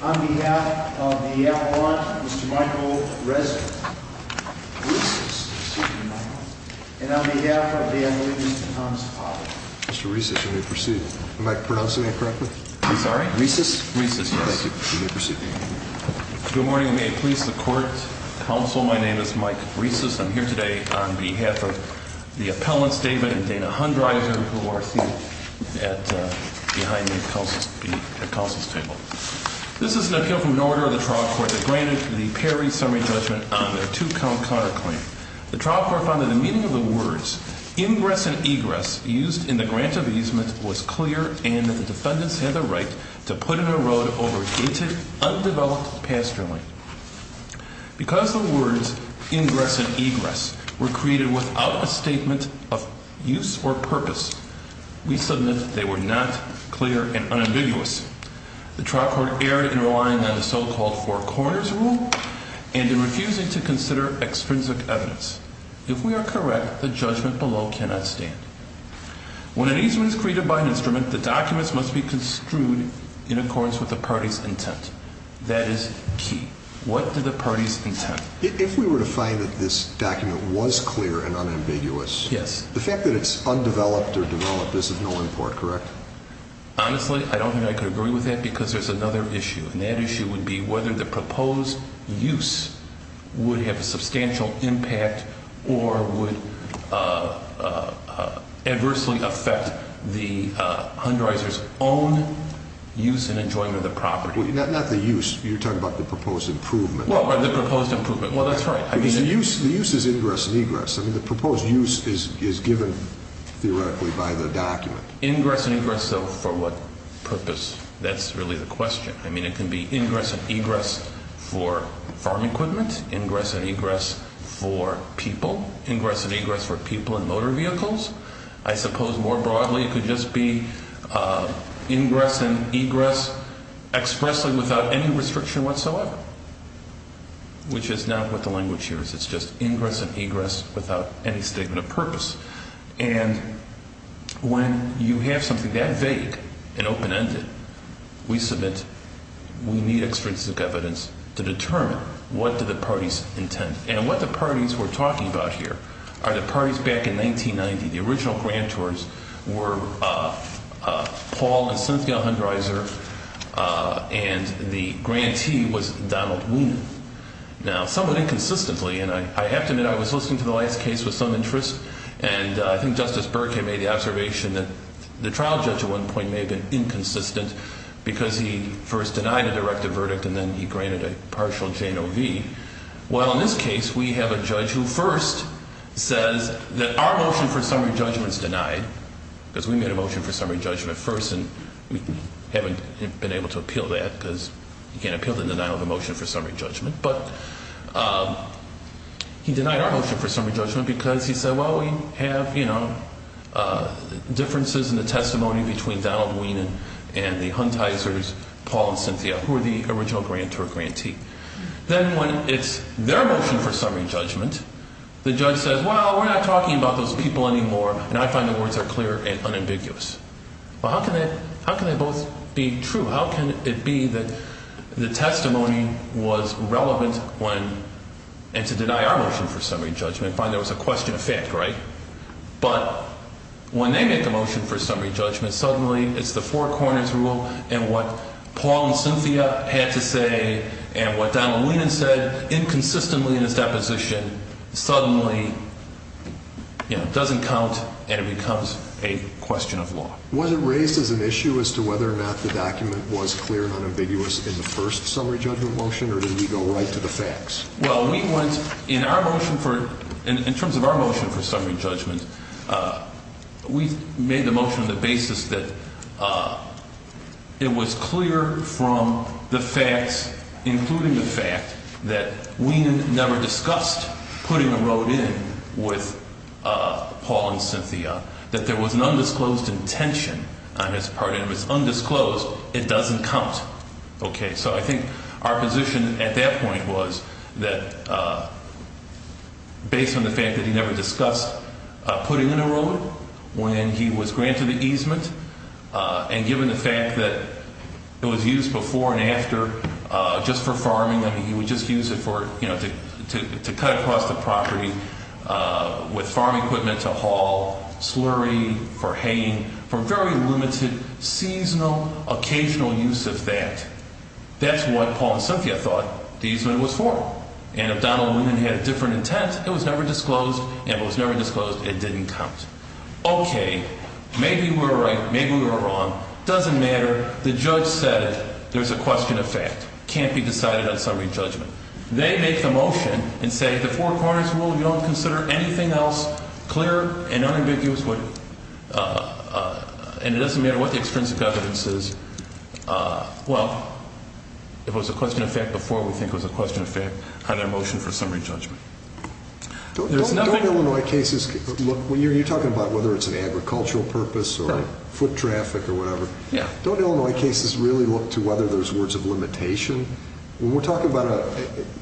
on behalf of the Avalanche, Mr. Michael Resnick, Rhesus, excuse me, and on behalf of Dan Levy and Thomas Potter. Mr. Rhesus, you may proceed. Am I pronouncing that correctly? I'm sorry? Rhesus? Rhesus, yes. Thank you. You may proceed. Good morning, and may it please the court, counsel, my name is Mike Rhesus. I'm here today on behalf of the appellants, David and Dana Hundryser, who are seated behind the counsel's table. This is an appeal from an order of the trial court that granted the Perry summary judgment on their two-count counterclaim. The trial court found that the meaning of the words, ingress and egress, used in the grant of easement was clear and that the defendants had the right to put in a road over dated, undeveloped pasture land. Because the words ingress and egress were created without a statement of use or purpose, we submit that they were not clear and unambiguous. The trial court erred in relying on the so-called four corners rule and in refusing to consider extrinsic evidence. If we are correct, the judgment below cannot stand. When an easement is created by an instrument, the documents must be construed in accordance with the party's intent. That is key. What did the party's intent? If we were to find that this document was clear and unambiguous, the fact that it's undeveloped or developed is of no import, correct? Honestly, I don't think I could agree with that because there's another issue. And that issue would be whether the proposed use would have a substantial impact or would adversely affect the underwriters' own use and enjoyment of the property. Not the use. You're talking about the proposed improvement. Well, the proposed improvement. Well, that's right. The use is ingress and egress. I mean, the proposed use is given theoretically by the document. Ingress and egress, though, for what purpose? That's really the question. I mean, it can be ingress and egress for farm equipment, ingress and egress for people, ingress and egress for people in motor vehicles. I suppose more broadly it could just be ingress and egress expressly without any restriction whatsoever, which is not what the language here is. It's just ingress and egress without any statement of purpose. And when you have something that vague and open-ended, we submit, we need extrinsic evidence to determine what do the parties intend. And what the parties were talking about here are the parties back in 1990. The original grantors were Paul and Cynthia Hundreiser, and the grantee was Donald Ween. Now, somewhat inconsistently, and I have to admit I was listening to the last case with some interest, and I think Justice Burkhead made the observation that the trial judge at one point may have been inconsistent because he first denied a directive verdict, and then he granted a partial Jane O. V. Well, in this case, we have a judge who first says that our motion for summary judgment is denied, because we made a motion for summary judgment first, and we haven't been able to appeal that because you can't appeal the denial of a motion for summary judgment. But he denied our motion for summary judgment because he said, well, we have differences in the testimony between Donald Ween and the Hundreiser's Paul and Cynthia, who were the original grantor or grantee. Then when it's their motion for summary judgment, the judge says, well, we're not talking about those people anymore, and I find the words are clear and unambiguous. Well, how can they both be true? How can it be that the testimony was relevant when, and to deny our motion for summary judgment, there was a question of fact, right? But when they make a motion for summary judgment, suddenly it's the four corners rule, and what Paul and Cynthia had to say and what Donald Ween had said inconsistently in his deposition suddenly doesn't count, and it becomes a question of law. Was it raised as an issue as to whether or not the document was clear and unambiguous in the first summary judgment motion, or did we go right to the facts? Well, we went, in our motion for, in terms of our motion for summary judgment, we made the motion on the basis that it was clear from the facts, including the fact, that Ween never discussed putting a road in with Paul and Cynthia, that there was an undisclosed intention on his part, and if it's undisclosed, it doesn't count. Okay. So I think our position at that point was that based on the fact that he never discussed putting in a road when he was granted the easement, and given the fact that it was used before and after just for farming, I mean, he would just use it to cut across the property with farm equipment to haul slurry for haying, for very limited, seasonal, occasional use of that. That's what Paul and Cynthia thought the easement was for, and if Donald Ween had a different intent, it was never disclosed, and if it was never disclosed, it didn't count. Okay. Maybe we were right. Maybe we were wrong. Doesn't matter. The judge said it. There's a question of fact. Can't be decided on summary judgment. They make the motion and say the Four Corners Rule, you don't consider anything else clear and unambiguous, and it doesn't matter what the extrinsic evidence is. Well, if it was a question of fact before, we think it was a question of fact on their motion for summary judgment. Don't Illinois cases look, you're talking about whether it's an agricultural purpose or foot traffic or whatever. Yeah. Don't Illinois cases really look to whether there's words of limitation? When we're talking about a,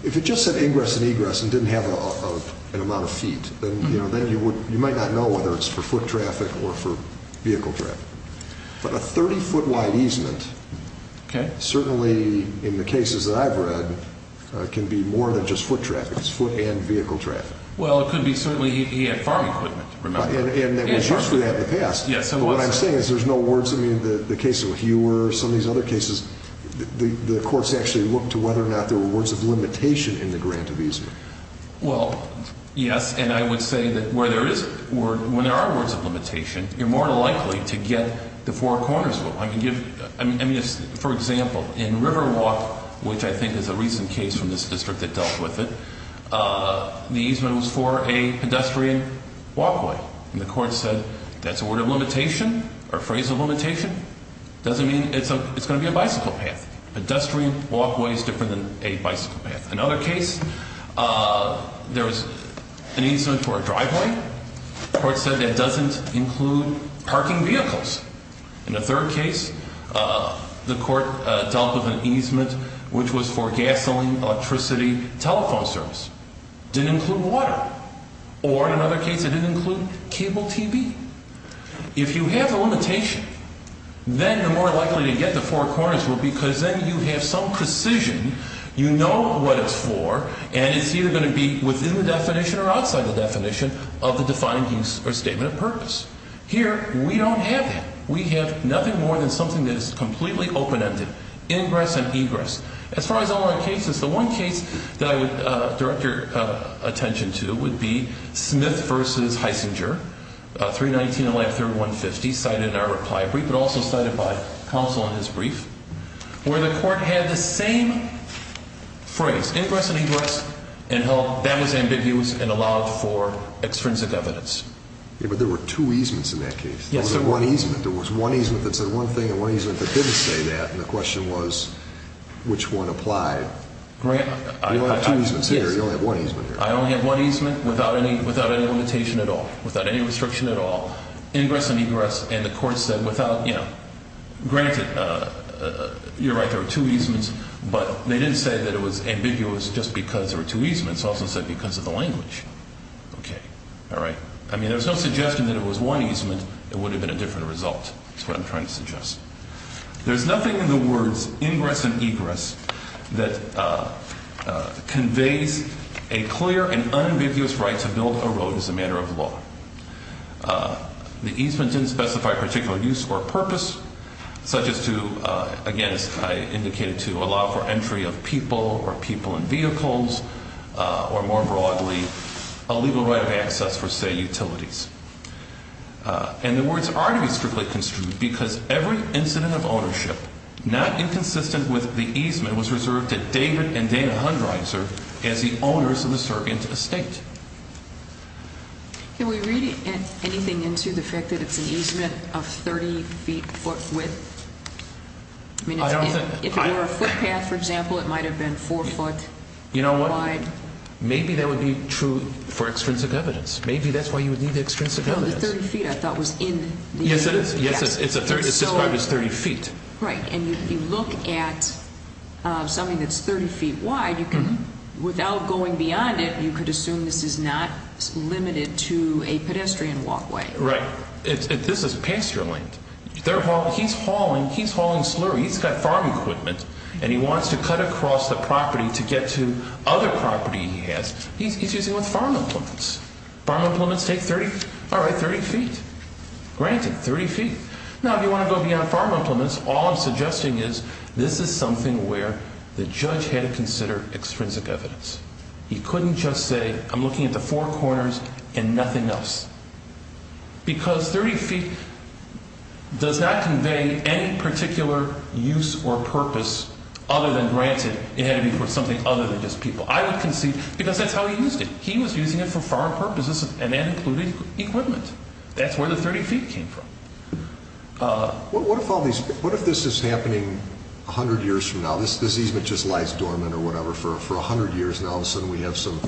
if it just said ingress and egress and didn't have an amount of feet, then you might not know whether it's for foot traffic or for vehicle traffic. But a 30-foot wide easement, certainly in the cases that I've read, can be more than just foot traffic. It's foot and vehicle traffic. Well, it could be certainly he had farm equipment, remember. And it was used for that in the past. Yes, it was. But what I'm saying is there's no words. I mean, the cases with you were, some of these other cases, the courts actually looked to whether or not there were words of limitation in the grant of easement. Well, yes, and I would say that where there is, when there are words of limitation, you're more than likely to get the Four Corners Rule. I mean, for example, in Riverwalk, which I think is a recent case from this district that dealt with it, the easement was for a pedestrian walkway. And the court said that's a word of limitation or a phrase of limitation. It doesn't mean it's going to be a bicycle path. Pedestrian walkway is different than a bicycle path. Another case, there was an easement for a driveway. The court said that doesn't include parking vehicles. In the third case, the court dealt with an easement, which was for gasoline, electricity, telephone service. Didn't include water. Or, in another case, it didn't include cable TV. If you have a limitation, then you're more likely to get the Four Corners Rule because then you have some precision, you know what it's for, and it's either going to be within the definition or outside the definition of the defined use or statement of purpose. Here, we don't have that. We have nothing more than something that is completely open-ended. Ingress and egress. As far as all our cases, the one case that I would direct your attention to would be Smith v. Heisinger, 319-1131-50, cited in our reply brief but also cited by counsel in his brief, where the court had the same phrase, ingress and egress, and held that was ambiguous and allowed for extrinsic evidence. But there were two easements in that case. There was one easement that said one thing and one easement that didn't say that, and the question was which one applied. You only have two easements here. You only have one easement here. I only have one easement without any limitation at all, without any restriction at all. Ingress and egress, and the court said without, you know, granted, you're right, there were two easements, but they didn't say that it was ambiguous just because there were two easements. It also said because of the language. Okay. All right. I mean, there was no suggestion that it was one easement. It would have been a different result is what I'm trying to suggest. There's nothing in the words ingress and egress that conveys a clear and unambiguous right to build a road as a matter of law. The easement didn't specify a particular use or purpose such as to, again, as I indicated, to allow for entry of people or people in vehicles or, more broadly, a legal right of access for, say, utilities. And the words are to be strictly construed because every incident of ownership, not inconsistent with the easement, was reserved to David and Dana Hundreiser as the owners of the surrogate estate. Can we read anything into the fact that it's an easement of 30 feet width? I mean, if it were a footpath, for example, it might have been 4 foot wide. You know what? Maybe that would be true for extrinsic evidence. Maybe that's why you would need the extrinsic evidence. No, the 30 feet I thought was in the easement. Yes, it is. It's described as 30 feet. Right. And if you look at something that's 30 feet wide, you can, without going beyond it, you could assume this is not limited to a pedestrian walkway. Right. This is pasture-linked. He's hauling slurry. He's got farm equipment, and he wants to cut across the property to get to other property he has. He's using farm implements. Farm implements take 30 feet. Granted, 30 feet. Now, if you want to go beyond farm implements, all I'm suggesting is this is something where the judge had to consider extrinsic evidence. He couldn't just say, I'm looking at the four corners and nothing else. Because 30 feet does not convey any particular use or purpose other than granted it had to be for something other than just people. I would concede because that's how he used it. He was using it for farm purposes, and that included equipment. That's where the 30 feet came from. What if this is happening 100 years from now? This easement just lies dormant or whatever for 100 years, and all of a sudden we have some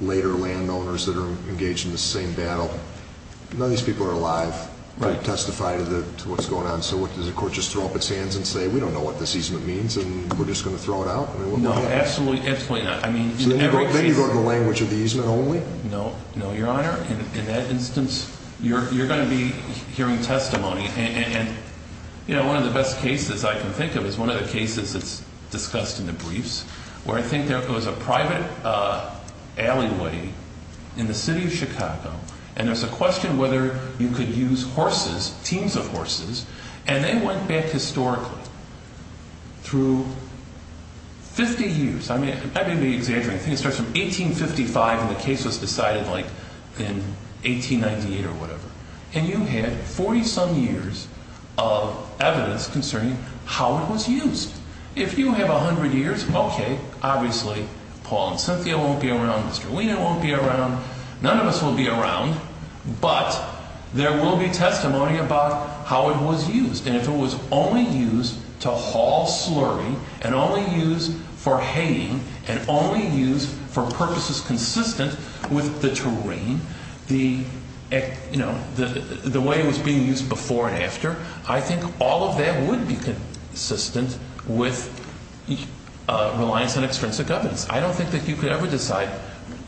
later landowners that are engaged in the same battle. None of these people are alive to testify to what's going on. So does the court just throw up its hands and say, we don't know what this easement means, and we're just going to throw it out? No, absolutely not. Then you go to the language of the easement only? No, Your Honor. In that instance, you're going to be hearing testimony. One of the best cases I can think of is one of the cases that's discussed in the briefs where I think there was a private alleyway in the city of Chicago, and there's a question whether you could use horses, teams of horses, and they went back historically through 50 years. I may be exaggerating. I think it starts from 1855, and the case was decided in 1898 or whatever. And you had 40-some years of evidence concerning how it was used. If you have 100 years, okay, obviously Paul and Cynthia won't be around, Mr. Lina won't be around, none of us will be around, but there will be testimony about how it was used. And if it was only used to haul slurry and only used for haying and only used for purposes consistent with the terrain, the way it was being used before and after, I think all of that would be consistent with reliance on extrinsic evidence. I don't think that you could ever decide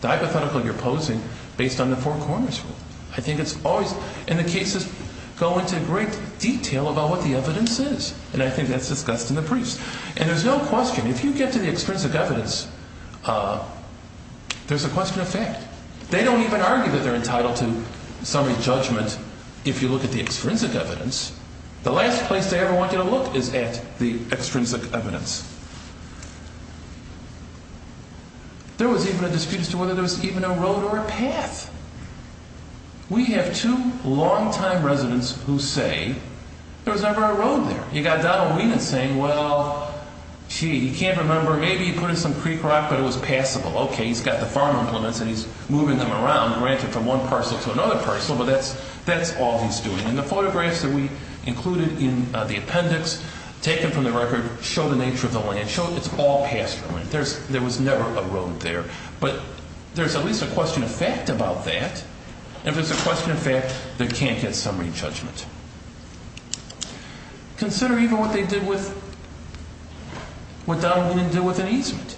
the hypothetical you're posing based on the Four Corners Rule. I think it's always, and the cases go into great detail about what the evidence is, and I think that's discussed in the briefs. And there's no question, if you get to the extrinsic evidence, there's a question of fact. They don't even argue that they're entitled to summary judgment if you look at the extrinsic evidence. The last place they ever want you to look is at the extrinsic evidence. There was even a dispute as to whether there was even a road or a path. We have two long-time residents who say there was never a road there. You've got Donald Lina saying, well, gee, he can't remember. Maybe he put in some creek rock, but it was passable. Okay, he's got the farm implements and he's moving them around, and ranting from one parcel to another parcel, but that's all he's doing. And the photographs that we included in the appendix, taken from the record, show the nature of the land. It's all passable. There was never a road there. But there's at least a question of fact about that. If there's a question of fact, they can't get summary judgment. Consider even what they did with what Donald Lina did with an easement.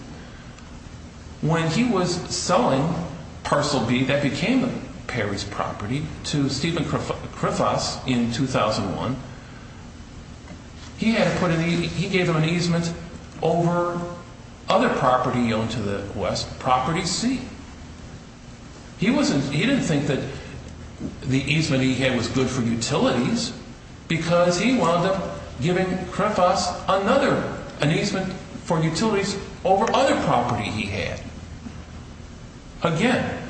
When he was selling Parcel B that became Perry's property to Stephen Kripos in 2001, he gave him an easement over other property owned to the west, Property C. He didn't think that the easement he had was good for utilities because he wound up giving Kripos another easement for utilities over other property he had. Again,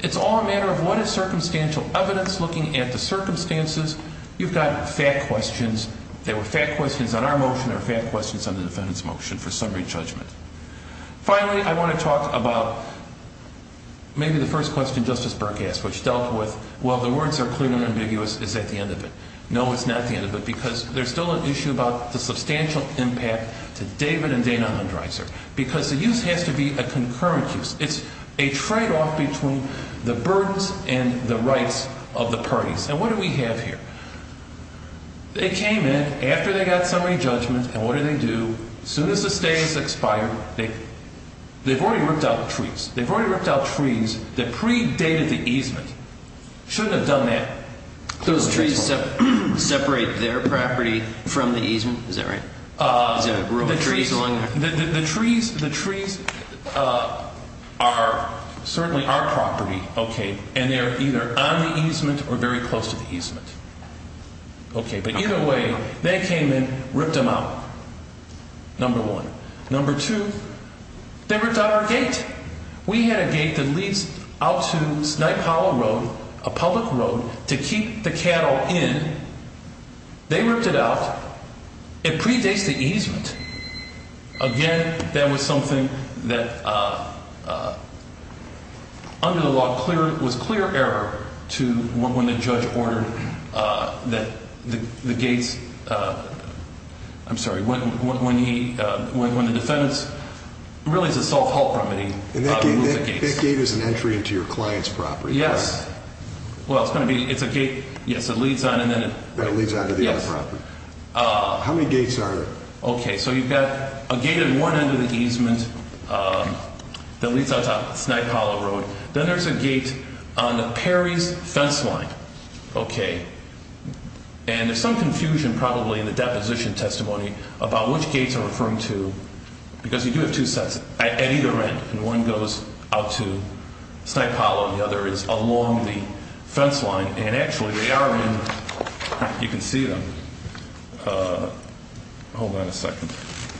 it's all a matter of what is circumstantial evidence looking at the circumstances. You've got fact questions. There were fact questions on our motion. There were fact questions on the defendant's motion for summary judgment. Finally, I want to talk about maybe the first question Justice Burke asked, which dealt with, well, the words are clear and ambiguous. Is that the end of it? No, it's not the end of it because there's still an issue about the substantial impact to David and Dana Undreiser because the use has to be a concurrent use. It's a tradeoff between the burdens and the rights of the parties. And what do we have here? They came in after they got summary judgment, and what do they do? They've already ripped out trees that predated the easement. Shouldn't have done that. Those trees separate their property from the easement? Is that right? The trees are certainly our property, okay, and they're either on the easement or very close to the easement. Okay, but either way, they came in, ripped them out, number one. Number two, they ripped out our gate. We had a gate that leads out to Snipe Hollow Road, a public road, to keep the cattle in. They ripped it out. It predates the easement. Again, that was something that under the law was clear error to when the judge ordered that the gates – I'm sorry, when the defendants – it really is a soft halt remedy. That gate is an entry into your client's property. Yes. Well, it's going to be – it's a gate. Yes, it leads on and then it – It leads on to the other property. How many gates are there? Okay, so you've got a gate at one end of the easement that leads out to Snipe Hollow Road. Then there's a gate on the Perry's fence line, okay, and there's some confusion probably in the deposition testimony about which gates are referring to because you do have two sets at either end, and one goes out to Snipe Hollow and the other is along the fence line, and actually they are in – you can see them. Hold on a second.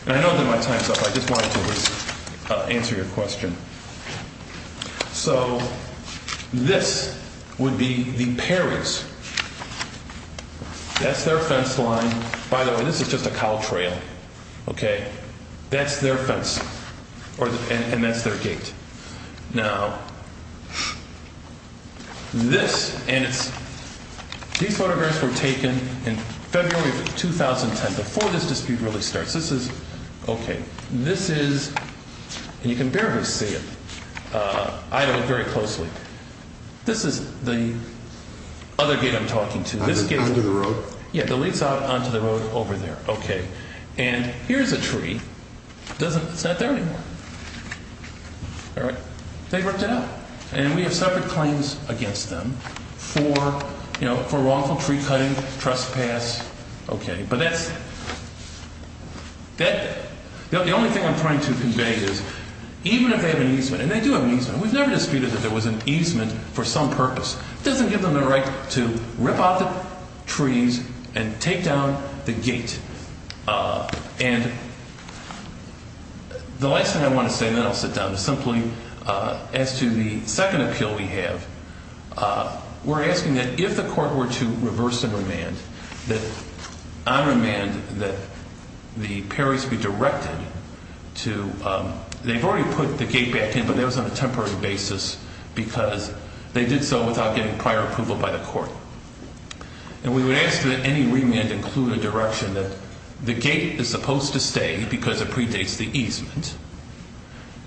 I know I did my time stuff. I just wanted to answer your question. So this would be the Perry's. That's their fence line. By the way, this is just a cow trail, okay? That's their fence and that's their gate. Now, this – and it's – these photographs were taken in February of 2010, before this dispute really starts. This is – okay, this is – and you can barely see it. I have to look very closely. This is the other gate I'm talking to. This gate – Under the road. Yes, it leads out onto the road over there, okay, and here's a tree. It's not there anymore. All right. They ripped it out, and we have separate claims against them for wrongful tree cutting, trespass. Okay, but that's – the only thing I'm trying to convey is even if they have an easement, and they do have an easement. We've never disputed that there was an easement for some purpose. It doesn't give them the right to rip out the trees and take down the gate. And the last thing I want to say, and then I'll sit down, is simply as to the second appeal we have, we're asking that if the court were to reverse and remand, that on remand that the paris be directed to – they've already put the gate back in, but that was on a temporary basis because they did so without getting prior approval by the court. And we would ask that any remand include a direction that the gate is supposed to stay because it predates the easement,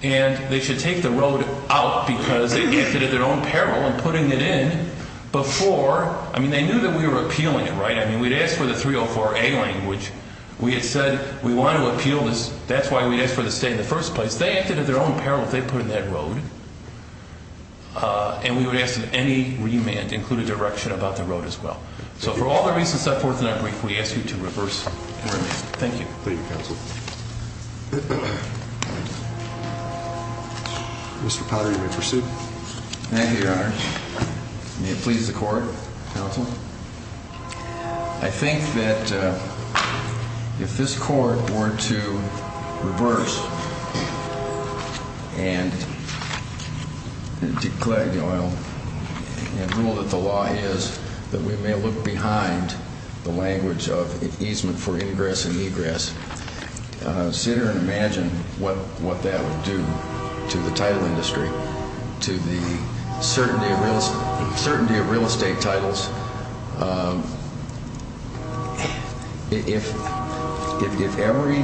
and they should take the road out because they acted at their own peril in putting it in before – I mean, they knew that we were appealing it, right? I mean, we'd asked for the 304A language. We had said we wanted to appeal this. That's why we asked for the stay in the first place. Because they acted at their own peril if they put in that road, and we would ask that any remand include a direction about the road as well. So for all the reasons set forth in that brief, we ask you to reverse and remand. Thank you. Thank you, counsel. Mr. Potter, you may proceed. Thank you, Your Honor. May it please the court, counsel. I think that if this court were to reverse and declare, you know, and rule that the law is that we may look behind the language of easement for ingress and egress, center and imagine what that would do to the title industry, to the certainty of real estate titles, if every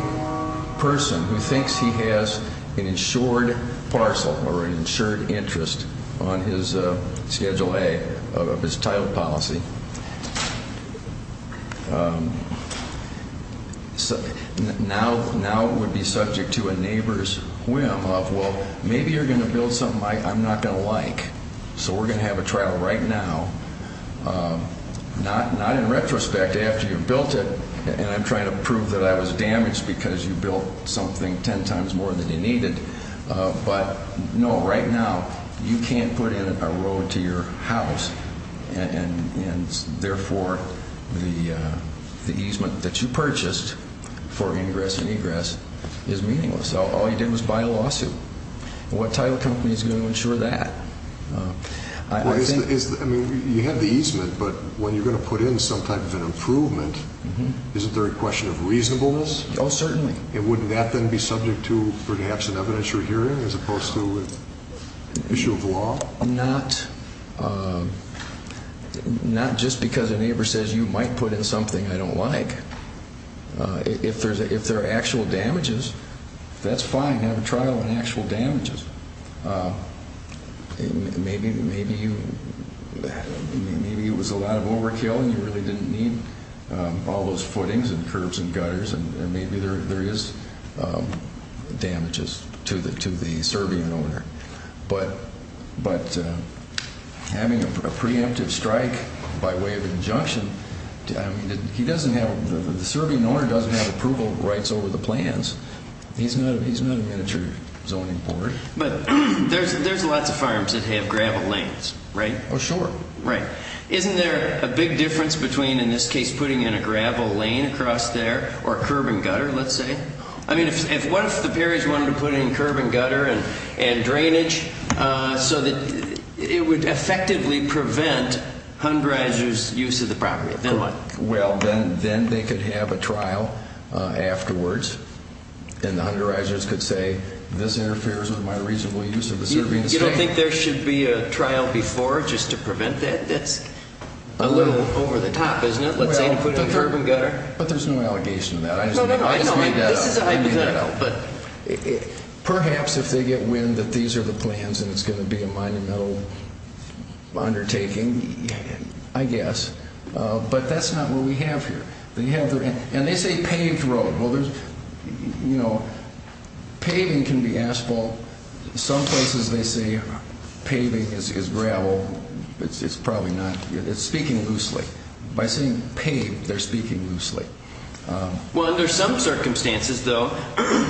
person who thinks he has an insured parcel or an insured interest on his Schedule A of his title policy, now would be subject to a neighbor's whim of, well, maybe you're going to build something I'm not going to like, so we're going to have a trial right now, not in retrospect after you've built it, and I'm trying to prove that I was damaged because you built something ten times more than you needed, but, no, right now you can't put in a road to your house, and therefore the easement that you purchased for ingress and egress is meaningless. All you did was buy a lawsuit. What title company is going to insure that? I mean, you have the easement, but when you're going to put in some type of an improvement, isn't there a question of reasonableness? Oh, certainly. And wouldn't that then be subject to perhaps an evidentiary hearing as opposed to an issue of law? Not just because a neighbor says you might put in something I don't like. If there are actual damages, that's fine. Have a trial on actual damages. Maybe it was a lot of overkill and you really didn't need all those footings and curbs and gutters, and maybe there is damages to the Serbian owner. But having a preemptive strike by way of injunction, the Serbian owner doesn't have approval rights over the plans. He's not a miniature zoning board. But there's lots of farms that have gravel lanes, right? Oh, sure. Right. Isn't there a big difference between, in this case, putting in a gravel lane across there or a curb and gutter, let's say? I mean, what if the Parish wanted to put in curb and gutter and drainage so that it would effectively prevent Hunderizers' use of the property? Of course. Then what? Well, then they could have a trial afterwards, and the Hunderizers could say this interferes with my reasonable use of the Serbian estate. So you think there should be a trial before just to prevent that? That's a little over the top, isn't it, let's say, to put in curb and gutter? But there's no allegation to that. No, no, no. I just made that up. This is a hypothetical. Perhaps if they get wind that these are the plans and it's going to be a monumental undertaking, I guess. But that's not what we have here. And they say paved road. You know, paving can be asphalt. Some places they say paving is gravel. It's probably not. It's speaking loosely. By saying paved, they're speaking loosely. Well, under some circumstances, though,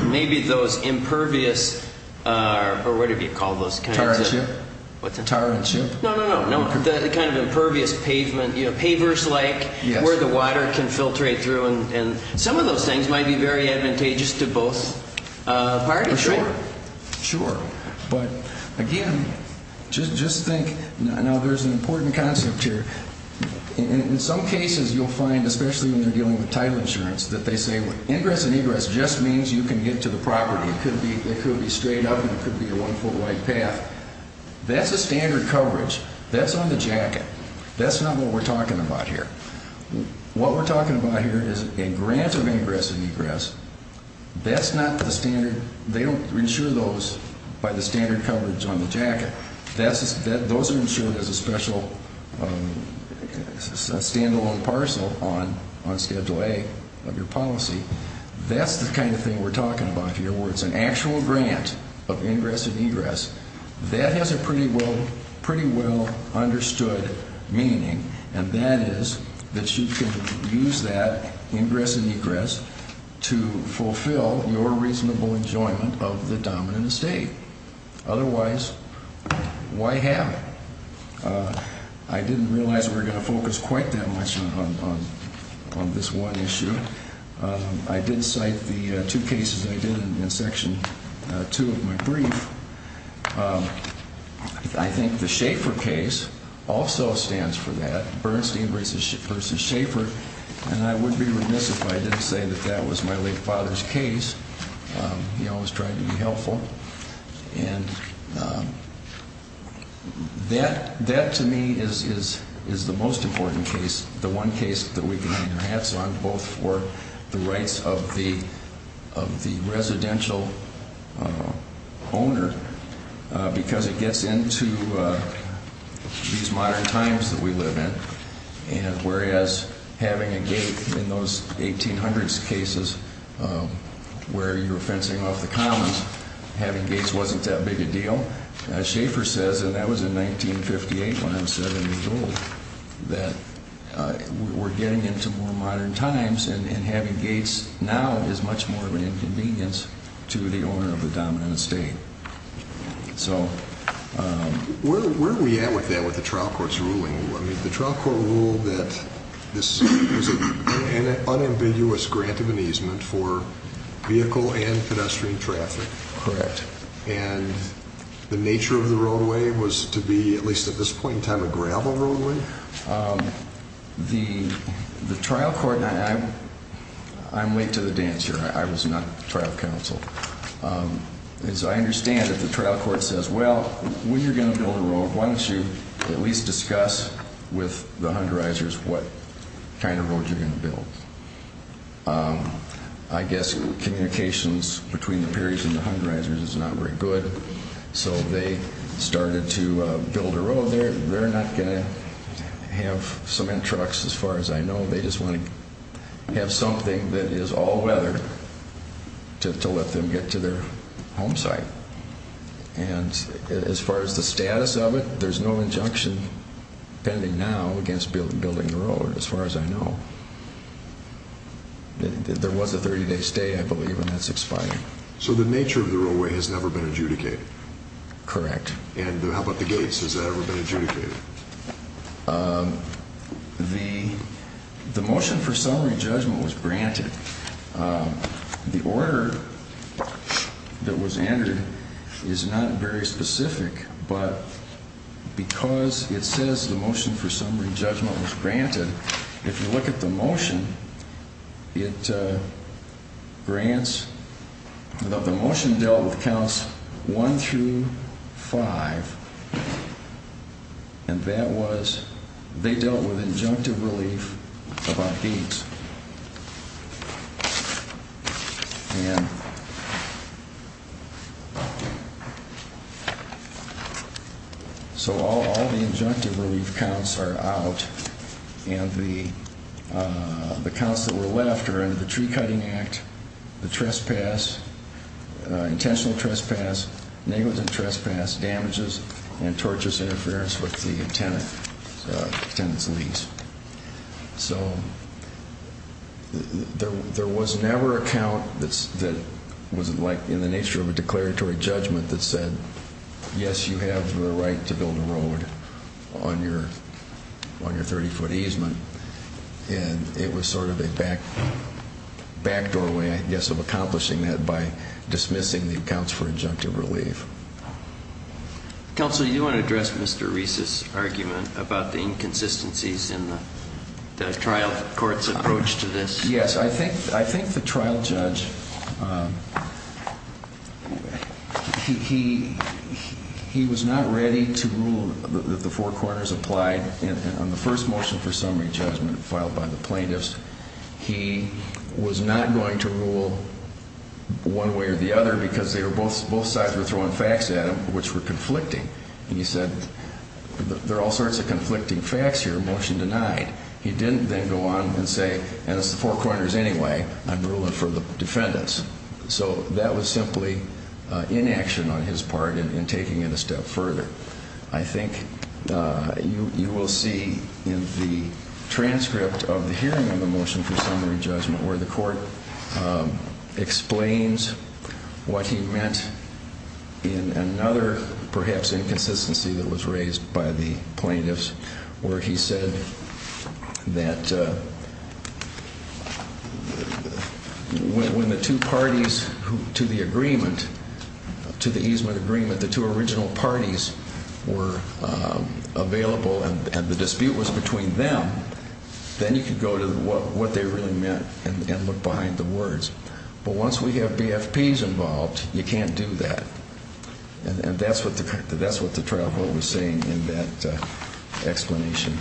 maybe those impervious or whatever you call those kinds of – Tarn ship? What's that? Tarn ship? No, no, no. The kind of impervious pavement, you know, pavers-like where the water can filtrate through. And some of those things might be very advantageous to both parties, right? Sure. But, again, just think. Now, there's an important concept here. In some cases you'll find, especially when you're dealing with title insurance, that they say, well, ingress and egress just means you can get to the property. It could be straight up and it could be a one-foot wide path. That's a standard coverage. That's on the jacket. That's not what we're talking about here. What we're talking about here is a grant of ingress and egress. That's not the standard. They don't insure those by the standard coverage on the jacket. Those are insured as a special stand-alone parcel on Schedule A of your policy. That's the kind of thing we're talking about here, where it's an actual grant of ingress and egress. That has a pretty well understood meaning. And that is that you can use that ingress and egress to fulfill your reasonable enjoyment of the dominant estate. Otherwise, why have it? I didn't realize we were going to focus quite that much on this one issue. I did cite the two cases I did in Section 2 of my brief. I think the Schaefer case also stands for that. Bernstein v. Schaefer. And I would be remiss if I didn't say that that was my late father's case. He always tried to be helpful. And that, to me, is the most important case, the one case that we can hang our hats on, both for the rights of the residential owner, because it gets into these modern times that we live in, whereas having a gate in those 1800s cases where you were fencing off the commons, having gates wasn't that big a deal. As Schaefer says, and that was in 1958 when I'm 70 years old, that we're getting into more modern times, and having gates now is much more of an inconvenience to the owner of the dominant estate. Where are we at with that, with the trial court's ruling? The trial court ruled that this was an unambiguous grant of an easement for vehicle and pedestrian traffic. Correct. And the nature of the roadway was to be, at least at this point in time, a gravel roadway? The trial court, and I'm late to the dance here. I was not trial counsel. As I understand it, the trial court says, well, when you're going to build a road, why don't you at least discuss with the Hunderizers what kind of road you're going to build? I guess communications between the Perrys and the Hunderizers is not very good, so they started to build a road there. They're not going to have cement trucks, as far as I know. They just want to have something that is all weather to let them get to their home site. And as far as the status of it, there's no injunction pending now against building the road, as far as I know. There was a 30-day stay, I believe, and that's expired. So the nature of the roadway has never been adjudicated? Correct. And how about the gates? Has that ever been adjudicated? The motion for summary judgment was granted. The order that was entered is not very specific, but because it says the motion for summary judgment was granted, if you look at the motion, the motion dealt with counts one through five, and they dealt with injunctive relief about gates. And so all the injunctive relief counts are out, and the counts that were left are under the Tree Cutting Act, the trespass, intentional trespass, negligent trespass, damages, and tortious interference with the tenant's lease. So there was never a count that was in the nature of a declaratory judgment that said, yes, you have the right to build a road on your 30-foot easement. And it was sort of a backdoor way, I guess, of accomplishing that by dismissing the accounts for injunctive relief. Counsel, do you want to address Mr. Reese's argument about the inconsistencies in the trial court's approach to this? Yes. I think the trial judge, he was not ready to rule that the four corners applied. On the first motion for summary judgment filed by the plaintiffs, he was not going to rule one way or the other because both sides were throwing facts at him which were conflicting. He said, there are all sorts of conflicting facts here, motion denied. He didn't then go on and say, and it's the four corners anyway, I'm ruling for the defendants. So that was simply inaction on his part in taking it a step further. I think you will see in the transcript of the hearing on the motion for summary judgment where the court explains what he meant in another, perhaps, inconsistency that was raised by the plaintiffs where he said that when the two parties to the agreement, to the easement agreement, the two original parties were available and the dispute was between them, then you could go to what they really meant and look behind the words. But once we have BFPs involved, you can't do that. And that's what the trial court was saying in that explanation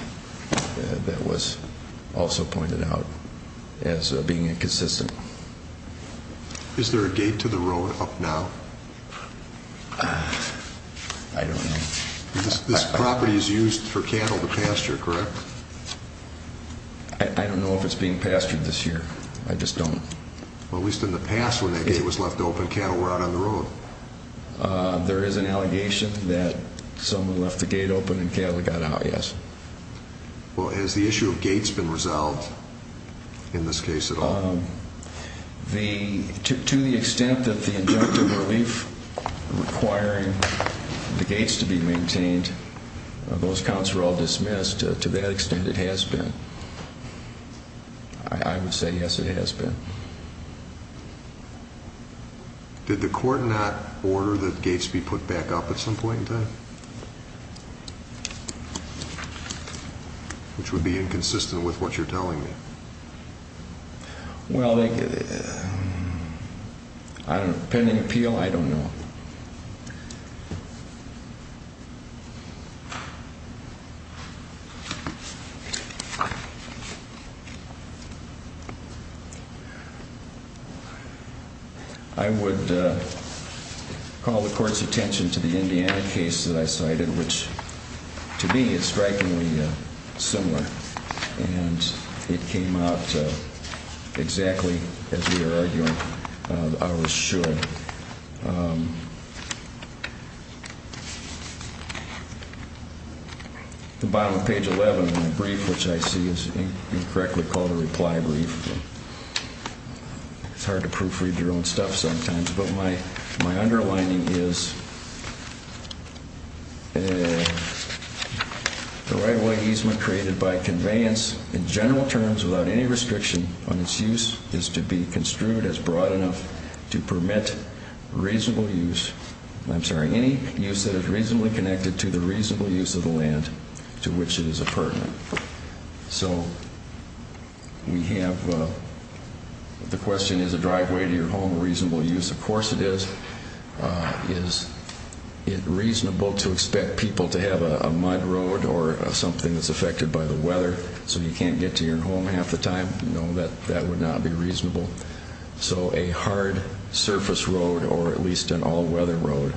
that was also pointed out as being inconsistent. Is there a gate to the road up now? I don't know. This property is used for cattle to pasture, correct? I don't know if it's being pastured this year. I just don't. Well, at least in the past when that gate was left open, cattle were out on the road. There is an allegation that someone left the gate open and cattle got out, yes. Well, has the issue of gates been resolved in this case at all? To the extent that the injunctive relief requiring the gates to be maintained, those counts were all dismissed. To that extent, it has been. I would say, yes, it has been. Did the court not order that gates be put back up at some point in time? Which would be inconsistent with what you're telling me. Well, pending appeal, I don't know. I would call the court's attention to the Indiana case that I cited, which to me is strikingly similar. And it came out exactly as we were arguing I was sure. The bottom of page 11 in the brief, which I see is incorrectly called a reply brief. It's hard to proofread your own stuff sometimes, but my underlining is the right-of-way easement created by conveyance in general terms without any restriction on its use is to be construed as broad enough to permit reasonable use, I'm sorry, any use that is reasonably connected to the reasonable use of the land to which it is a pertinent. So we have the question, is a driveway to your home a reasonable use? Of course it is. Is it reasonable to expect people to have a mud road or something that's affected by the weather so you can't get to your home half the time? No, that would not be reasonable. So a hard surface road, or at least an all-weather road,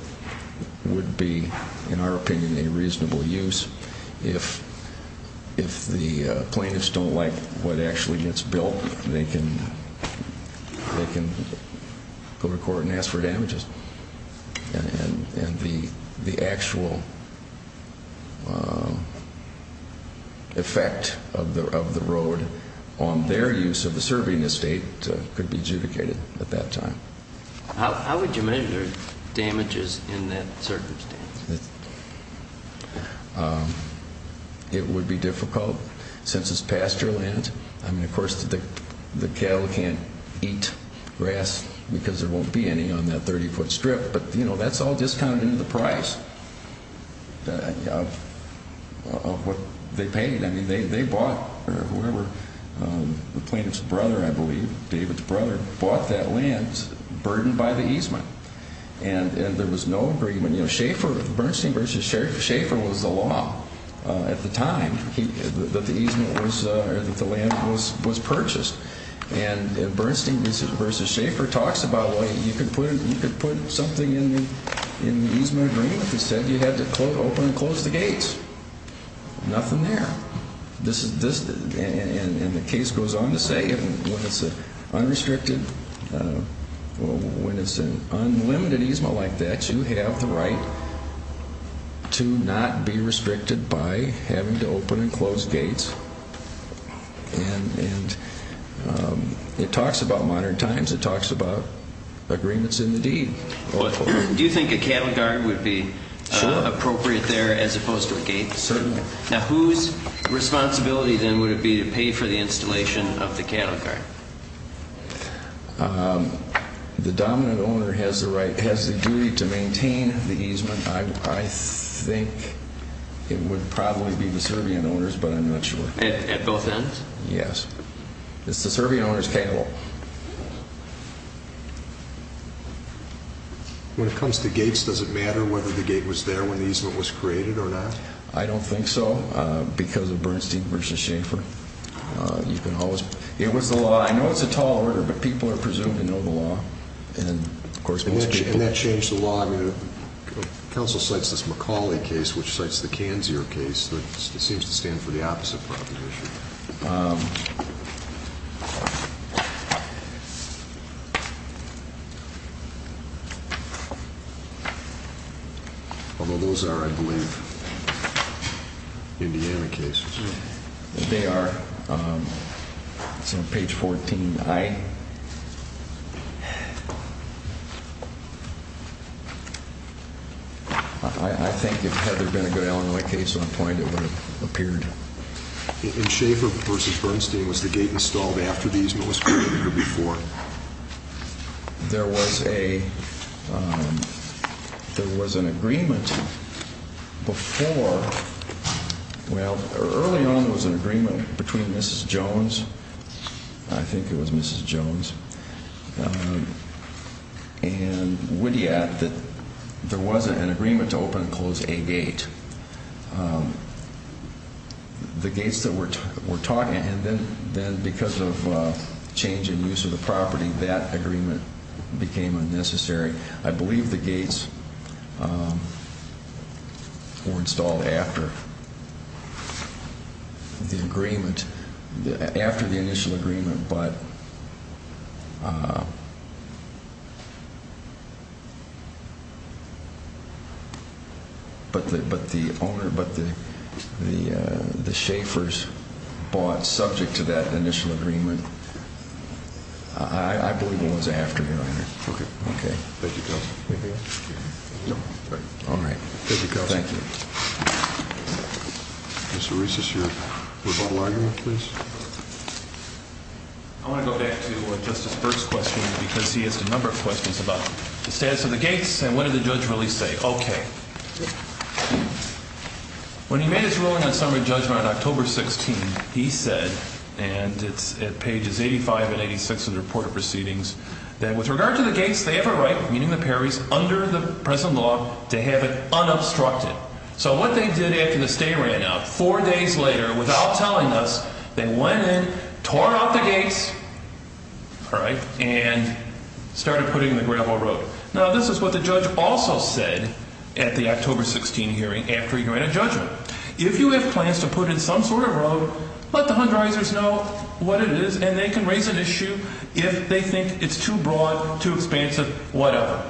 would be, in our opinion, a reasonable use. If the plaintiffs don't like what actually gets built, they can go to court and ask for damages. And the actual effect of the road on their use of the serving estate could be adjudicated at that time. How would you measure damages in that circumstance? It would be difficult since it's pasture land. Of course the cattle can't eat grass because there won't be any on that 30-foot strip, but that's all discounted into the price of what they paid. They bought, or whoever, the plaintiff's brother, I believe, David's brother, bought that land burdened by the easement. And there was no agreement. Bernstein v. Schaefer was the law at the time that the land was purchased. And Bernstein v. Schaefer talks about, well, you could put something in the easement agreement that said you had to open and close the gates. Nothing there. And the case goes on to say, when it's an unlimited easement like that, you have the right to not be restricted by having to open and close gates. And it talks about modern times. It talks about agreements in the deed. Do you think a cattle guard would be appropriate there as opposed to a gate? Certainly. Now whose responsibility then would it be to pay for the installation of the cattle guard? The dominant owner has the duty to maintain the easement. I think it would probably be the Serbian owners, but I'm not sure. At both ends? Yes. It's the Serbian owners' cattle. When it comes to gates, does it matter whether the gate was there when the easement was created or not? I don't think so. Because of Bernstein v. Schaefer. It was the law. I know it's a tall order, but people are presumed to know the law. And that changed the law. Counsel cites this McCauley case, which cites the Canzier case. It seems to stand for the opposite proposition. Although those are, I believe, Indiana cases. They are. It's on page 14i. I think if Heather had been a good Illinois case on point, it would have appeared. In Schaefer v. Bernstein, was the gate installed after the easement was created or before? There was an agreement before. Well, early on there was an agreement between Mrs. Jones, I think it was Mrs. Jones, and Widiad that there was an agreement to open and close a gate. The gates that we're talking about, and then because of change in use of the property, that agreement became unnecessary. I believe the gates were installed after the initial agreement, but the Schaefer's bought subject to that initial agreement. I believe it was after the agreement. I want to go back to Justice Burke's question, because he asked a number of questions about the status of the gates, and what did the judge really say? When he made his ruling on summary judgment on October 16, he said, and it's at pages 85 and 86 of the report of proceedings, that with regard to the gates, they have a right, meaning the Perrys, under the present law, to have it unobstructed. So what they did after the stay ran out, four days later, without telling us, they went in, tore out the gates, and started putting in the gravel road. Now, this is what the judge also said at the October 16 hearing, after he ran a judgment. If you have plans to put in some sort of road, let the Hunterizers know what it is, and they can raise an issue if they think it's too broad, too expansive, whatever.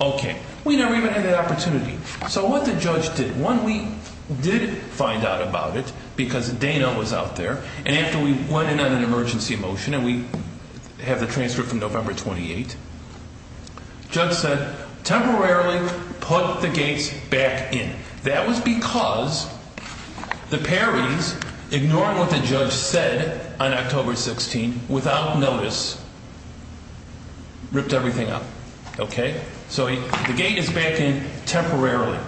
Okay. We never even had that opportunity. So what the judge did, one, we did find out about it, because Dana was out there, and after we went in on an emergency motion, and we have the transcript from November 28, the judge said, temporarily put the gates back in. That was because the Perrys, ignoring what the judge said on October 16, without notice, ripped everything up. Okay? So the gate is back in temporarily.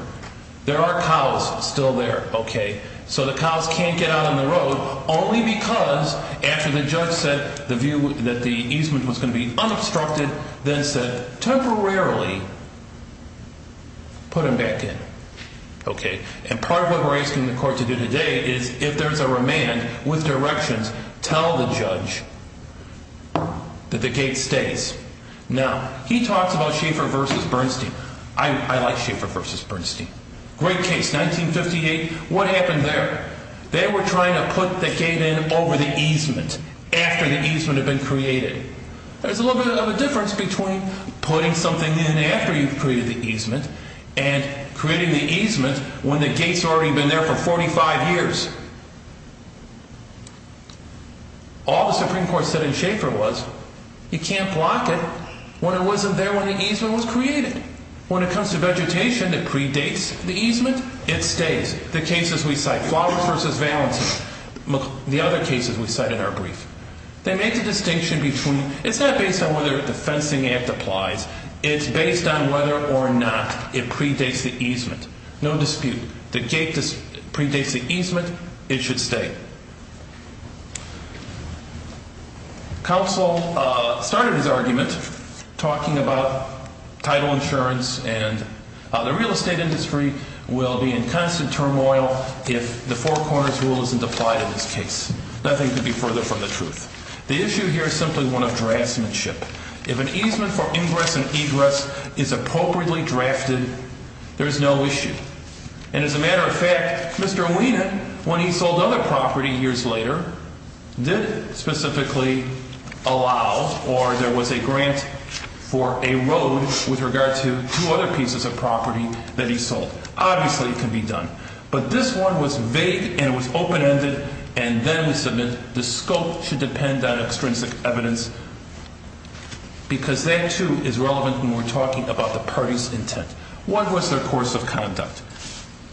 There are cows still there, okay? So the cows can't get out on the road, only because, after the judge said that the easement was going to be unobstructed, then said, temporarily, put them back in. Okay? And part of what we're asking the court to do today is, if there's a remand with directions, tell the judge that the gate stays. Now, he talks about Schaeffer versus Bernstein. I like Schaeffer versus Bernstein. Great case, 1958. What happened there? They were trying to put the gate in over the easement, after the easement had been created. There's a little bit of a difference between putting something in after you've created the easement, and creating the easement when the gate's already been there for 45 years. All the Supreme Court said in Schaeffer was, you can't block it when it wasn't there when the easement was created. When it comes to vegetation, it predates the easement. It stays. The cases we cite, Flowers versus Valency, the other cases we cite in our brief, they make the distinction between, it's not based on whether the fencing act applies. It's based on whether or not it predates the easement. No dispute. The gate predates the easement. It should stay. Counsel started his argument talking about title insurance and the real estate industry will be in constant turmoil if the Four Corners rule isn't applied in this case. Nothing could be further from the truth. The issue here is simply one of draftsmanship. If an easement for ingress and egress is appropriately drafted, there's no issue. And as a matter of fact, Mr. Wiener, when he sold other property years later, did specifically allow or there was a grant for a road with regard to two other pieces of property that he sold. Obviously, it can be done. But this one was vague and it was open-ended, and then we submit the scope should depend on extrinsic evidence because that, too, is relevant when we're talking about the party's intent. What was their course of conduct?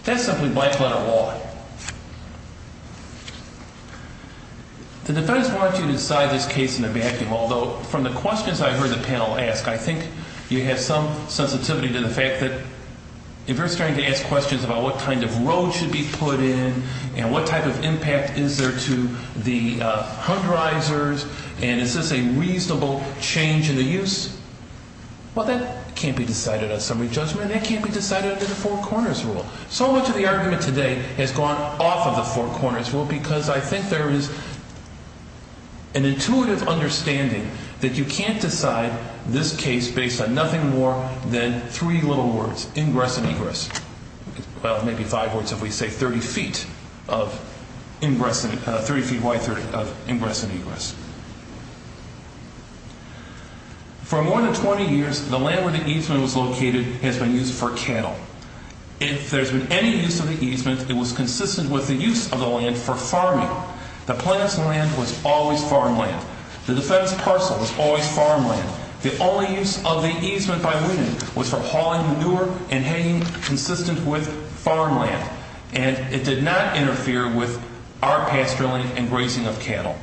That's simply blank letter law. The defense wanted to decide this case in a vacuum, although from the questions I heard the panel ask, I think you have some sensitivity to the fact that if you're starting to ask questions about what kind of road should be put in and what type of impact is there to the hung risers and is this a reasonable change in the use? Well, that can't be decided on summary judgment. That can't be decided under the Four Corners Rule. So much of the argument today has gone off of the Four Corners Rule because I think there is an intuitive understanding that you can't decide this case based on nothing more than three little words, ingress and egress. Well, maybe five words if we say 30 feet of ingress, 30 feet wide of ingress and egress. For more than 20 years, the land where the easement was located has been used for cattle. If there's been any use of the easement, it was consistent with the use of the land for farming. The plant's land was always farmland. The defense parcel was always farmland. The only use of the easement by women was for hauling manure and hanging consistent with farmland, and it did not interfere with our pasturing and grazing of cattle.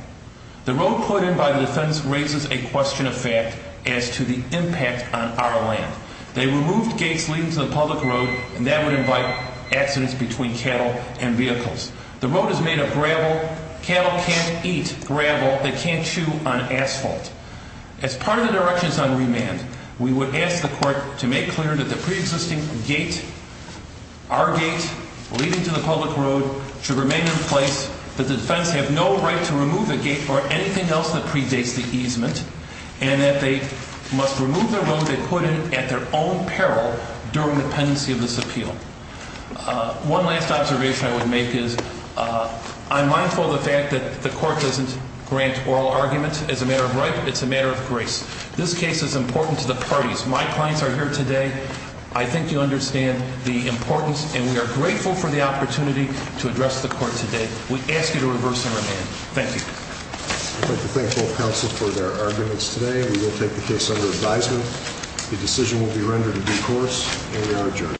The road put in by the defense raises a question of fact as to the impact on our land. They removed gates leading to the public road, and that would invite accidents between cattle and vehicles. The road is made of gravel. Cattle can't eat gravel. They can't chew on asphalt. As part of the directions on remand, we would ask the court to make clear that the preexisting gate, our gate leading to the public road, should remain in place. The defense has no right to remove the gate or anything else that predates the easement, and that they must remove the road they put in at their own peril during the pendency of this appeal. One last observation I would make is I'm mindful of the fact that the court doesn't grant oral arguments as a matter of right. It's a matter of grace. This case is important to the parties. My clients are here today. I think you understand the importance, and we are grateful for the opportunity to address the court today. We ask you to reverse the remand. Thank you. I'd like to thank both counsels for their arguments today. We will take the case under advisement. The decision will be rendered in due course, and we are adjourned.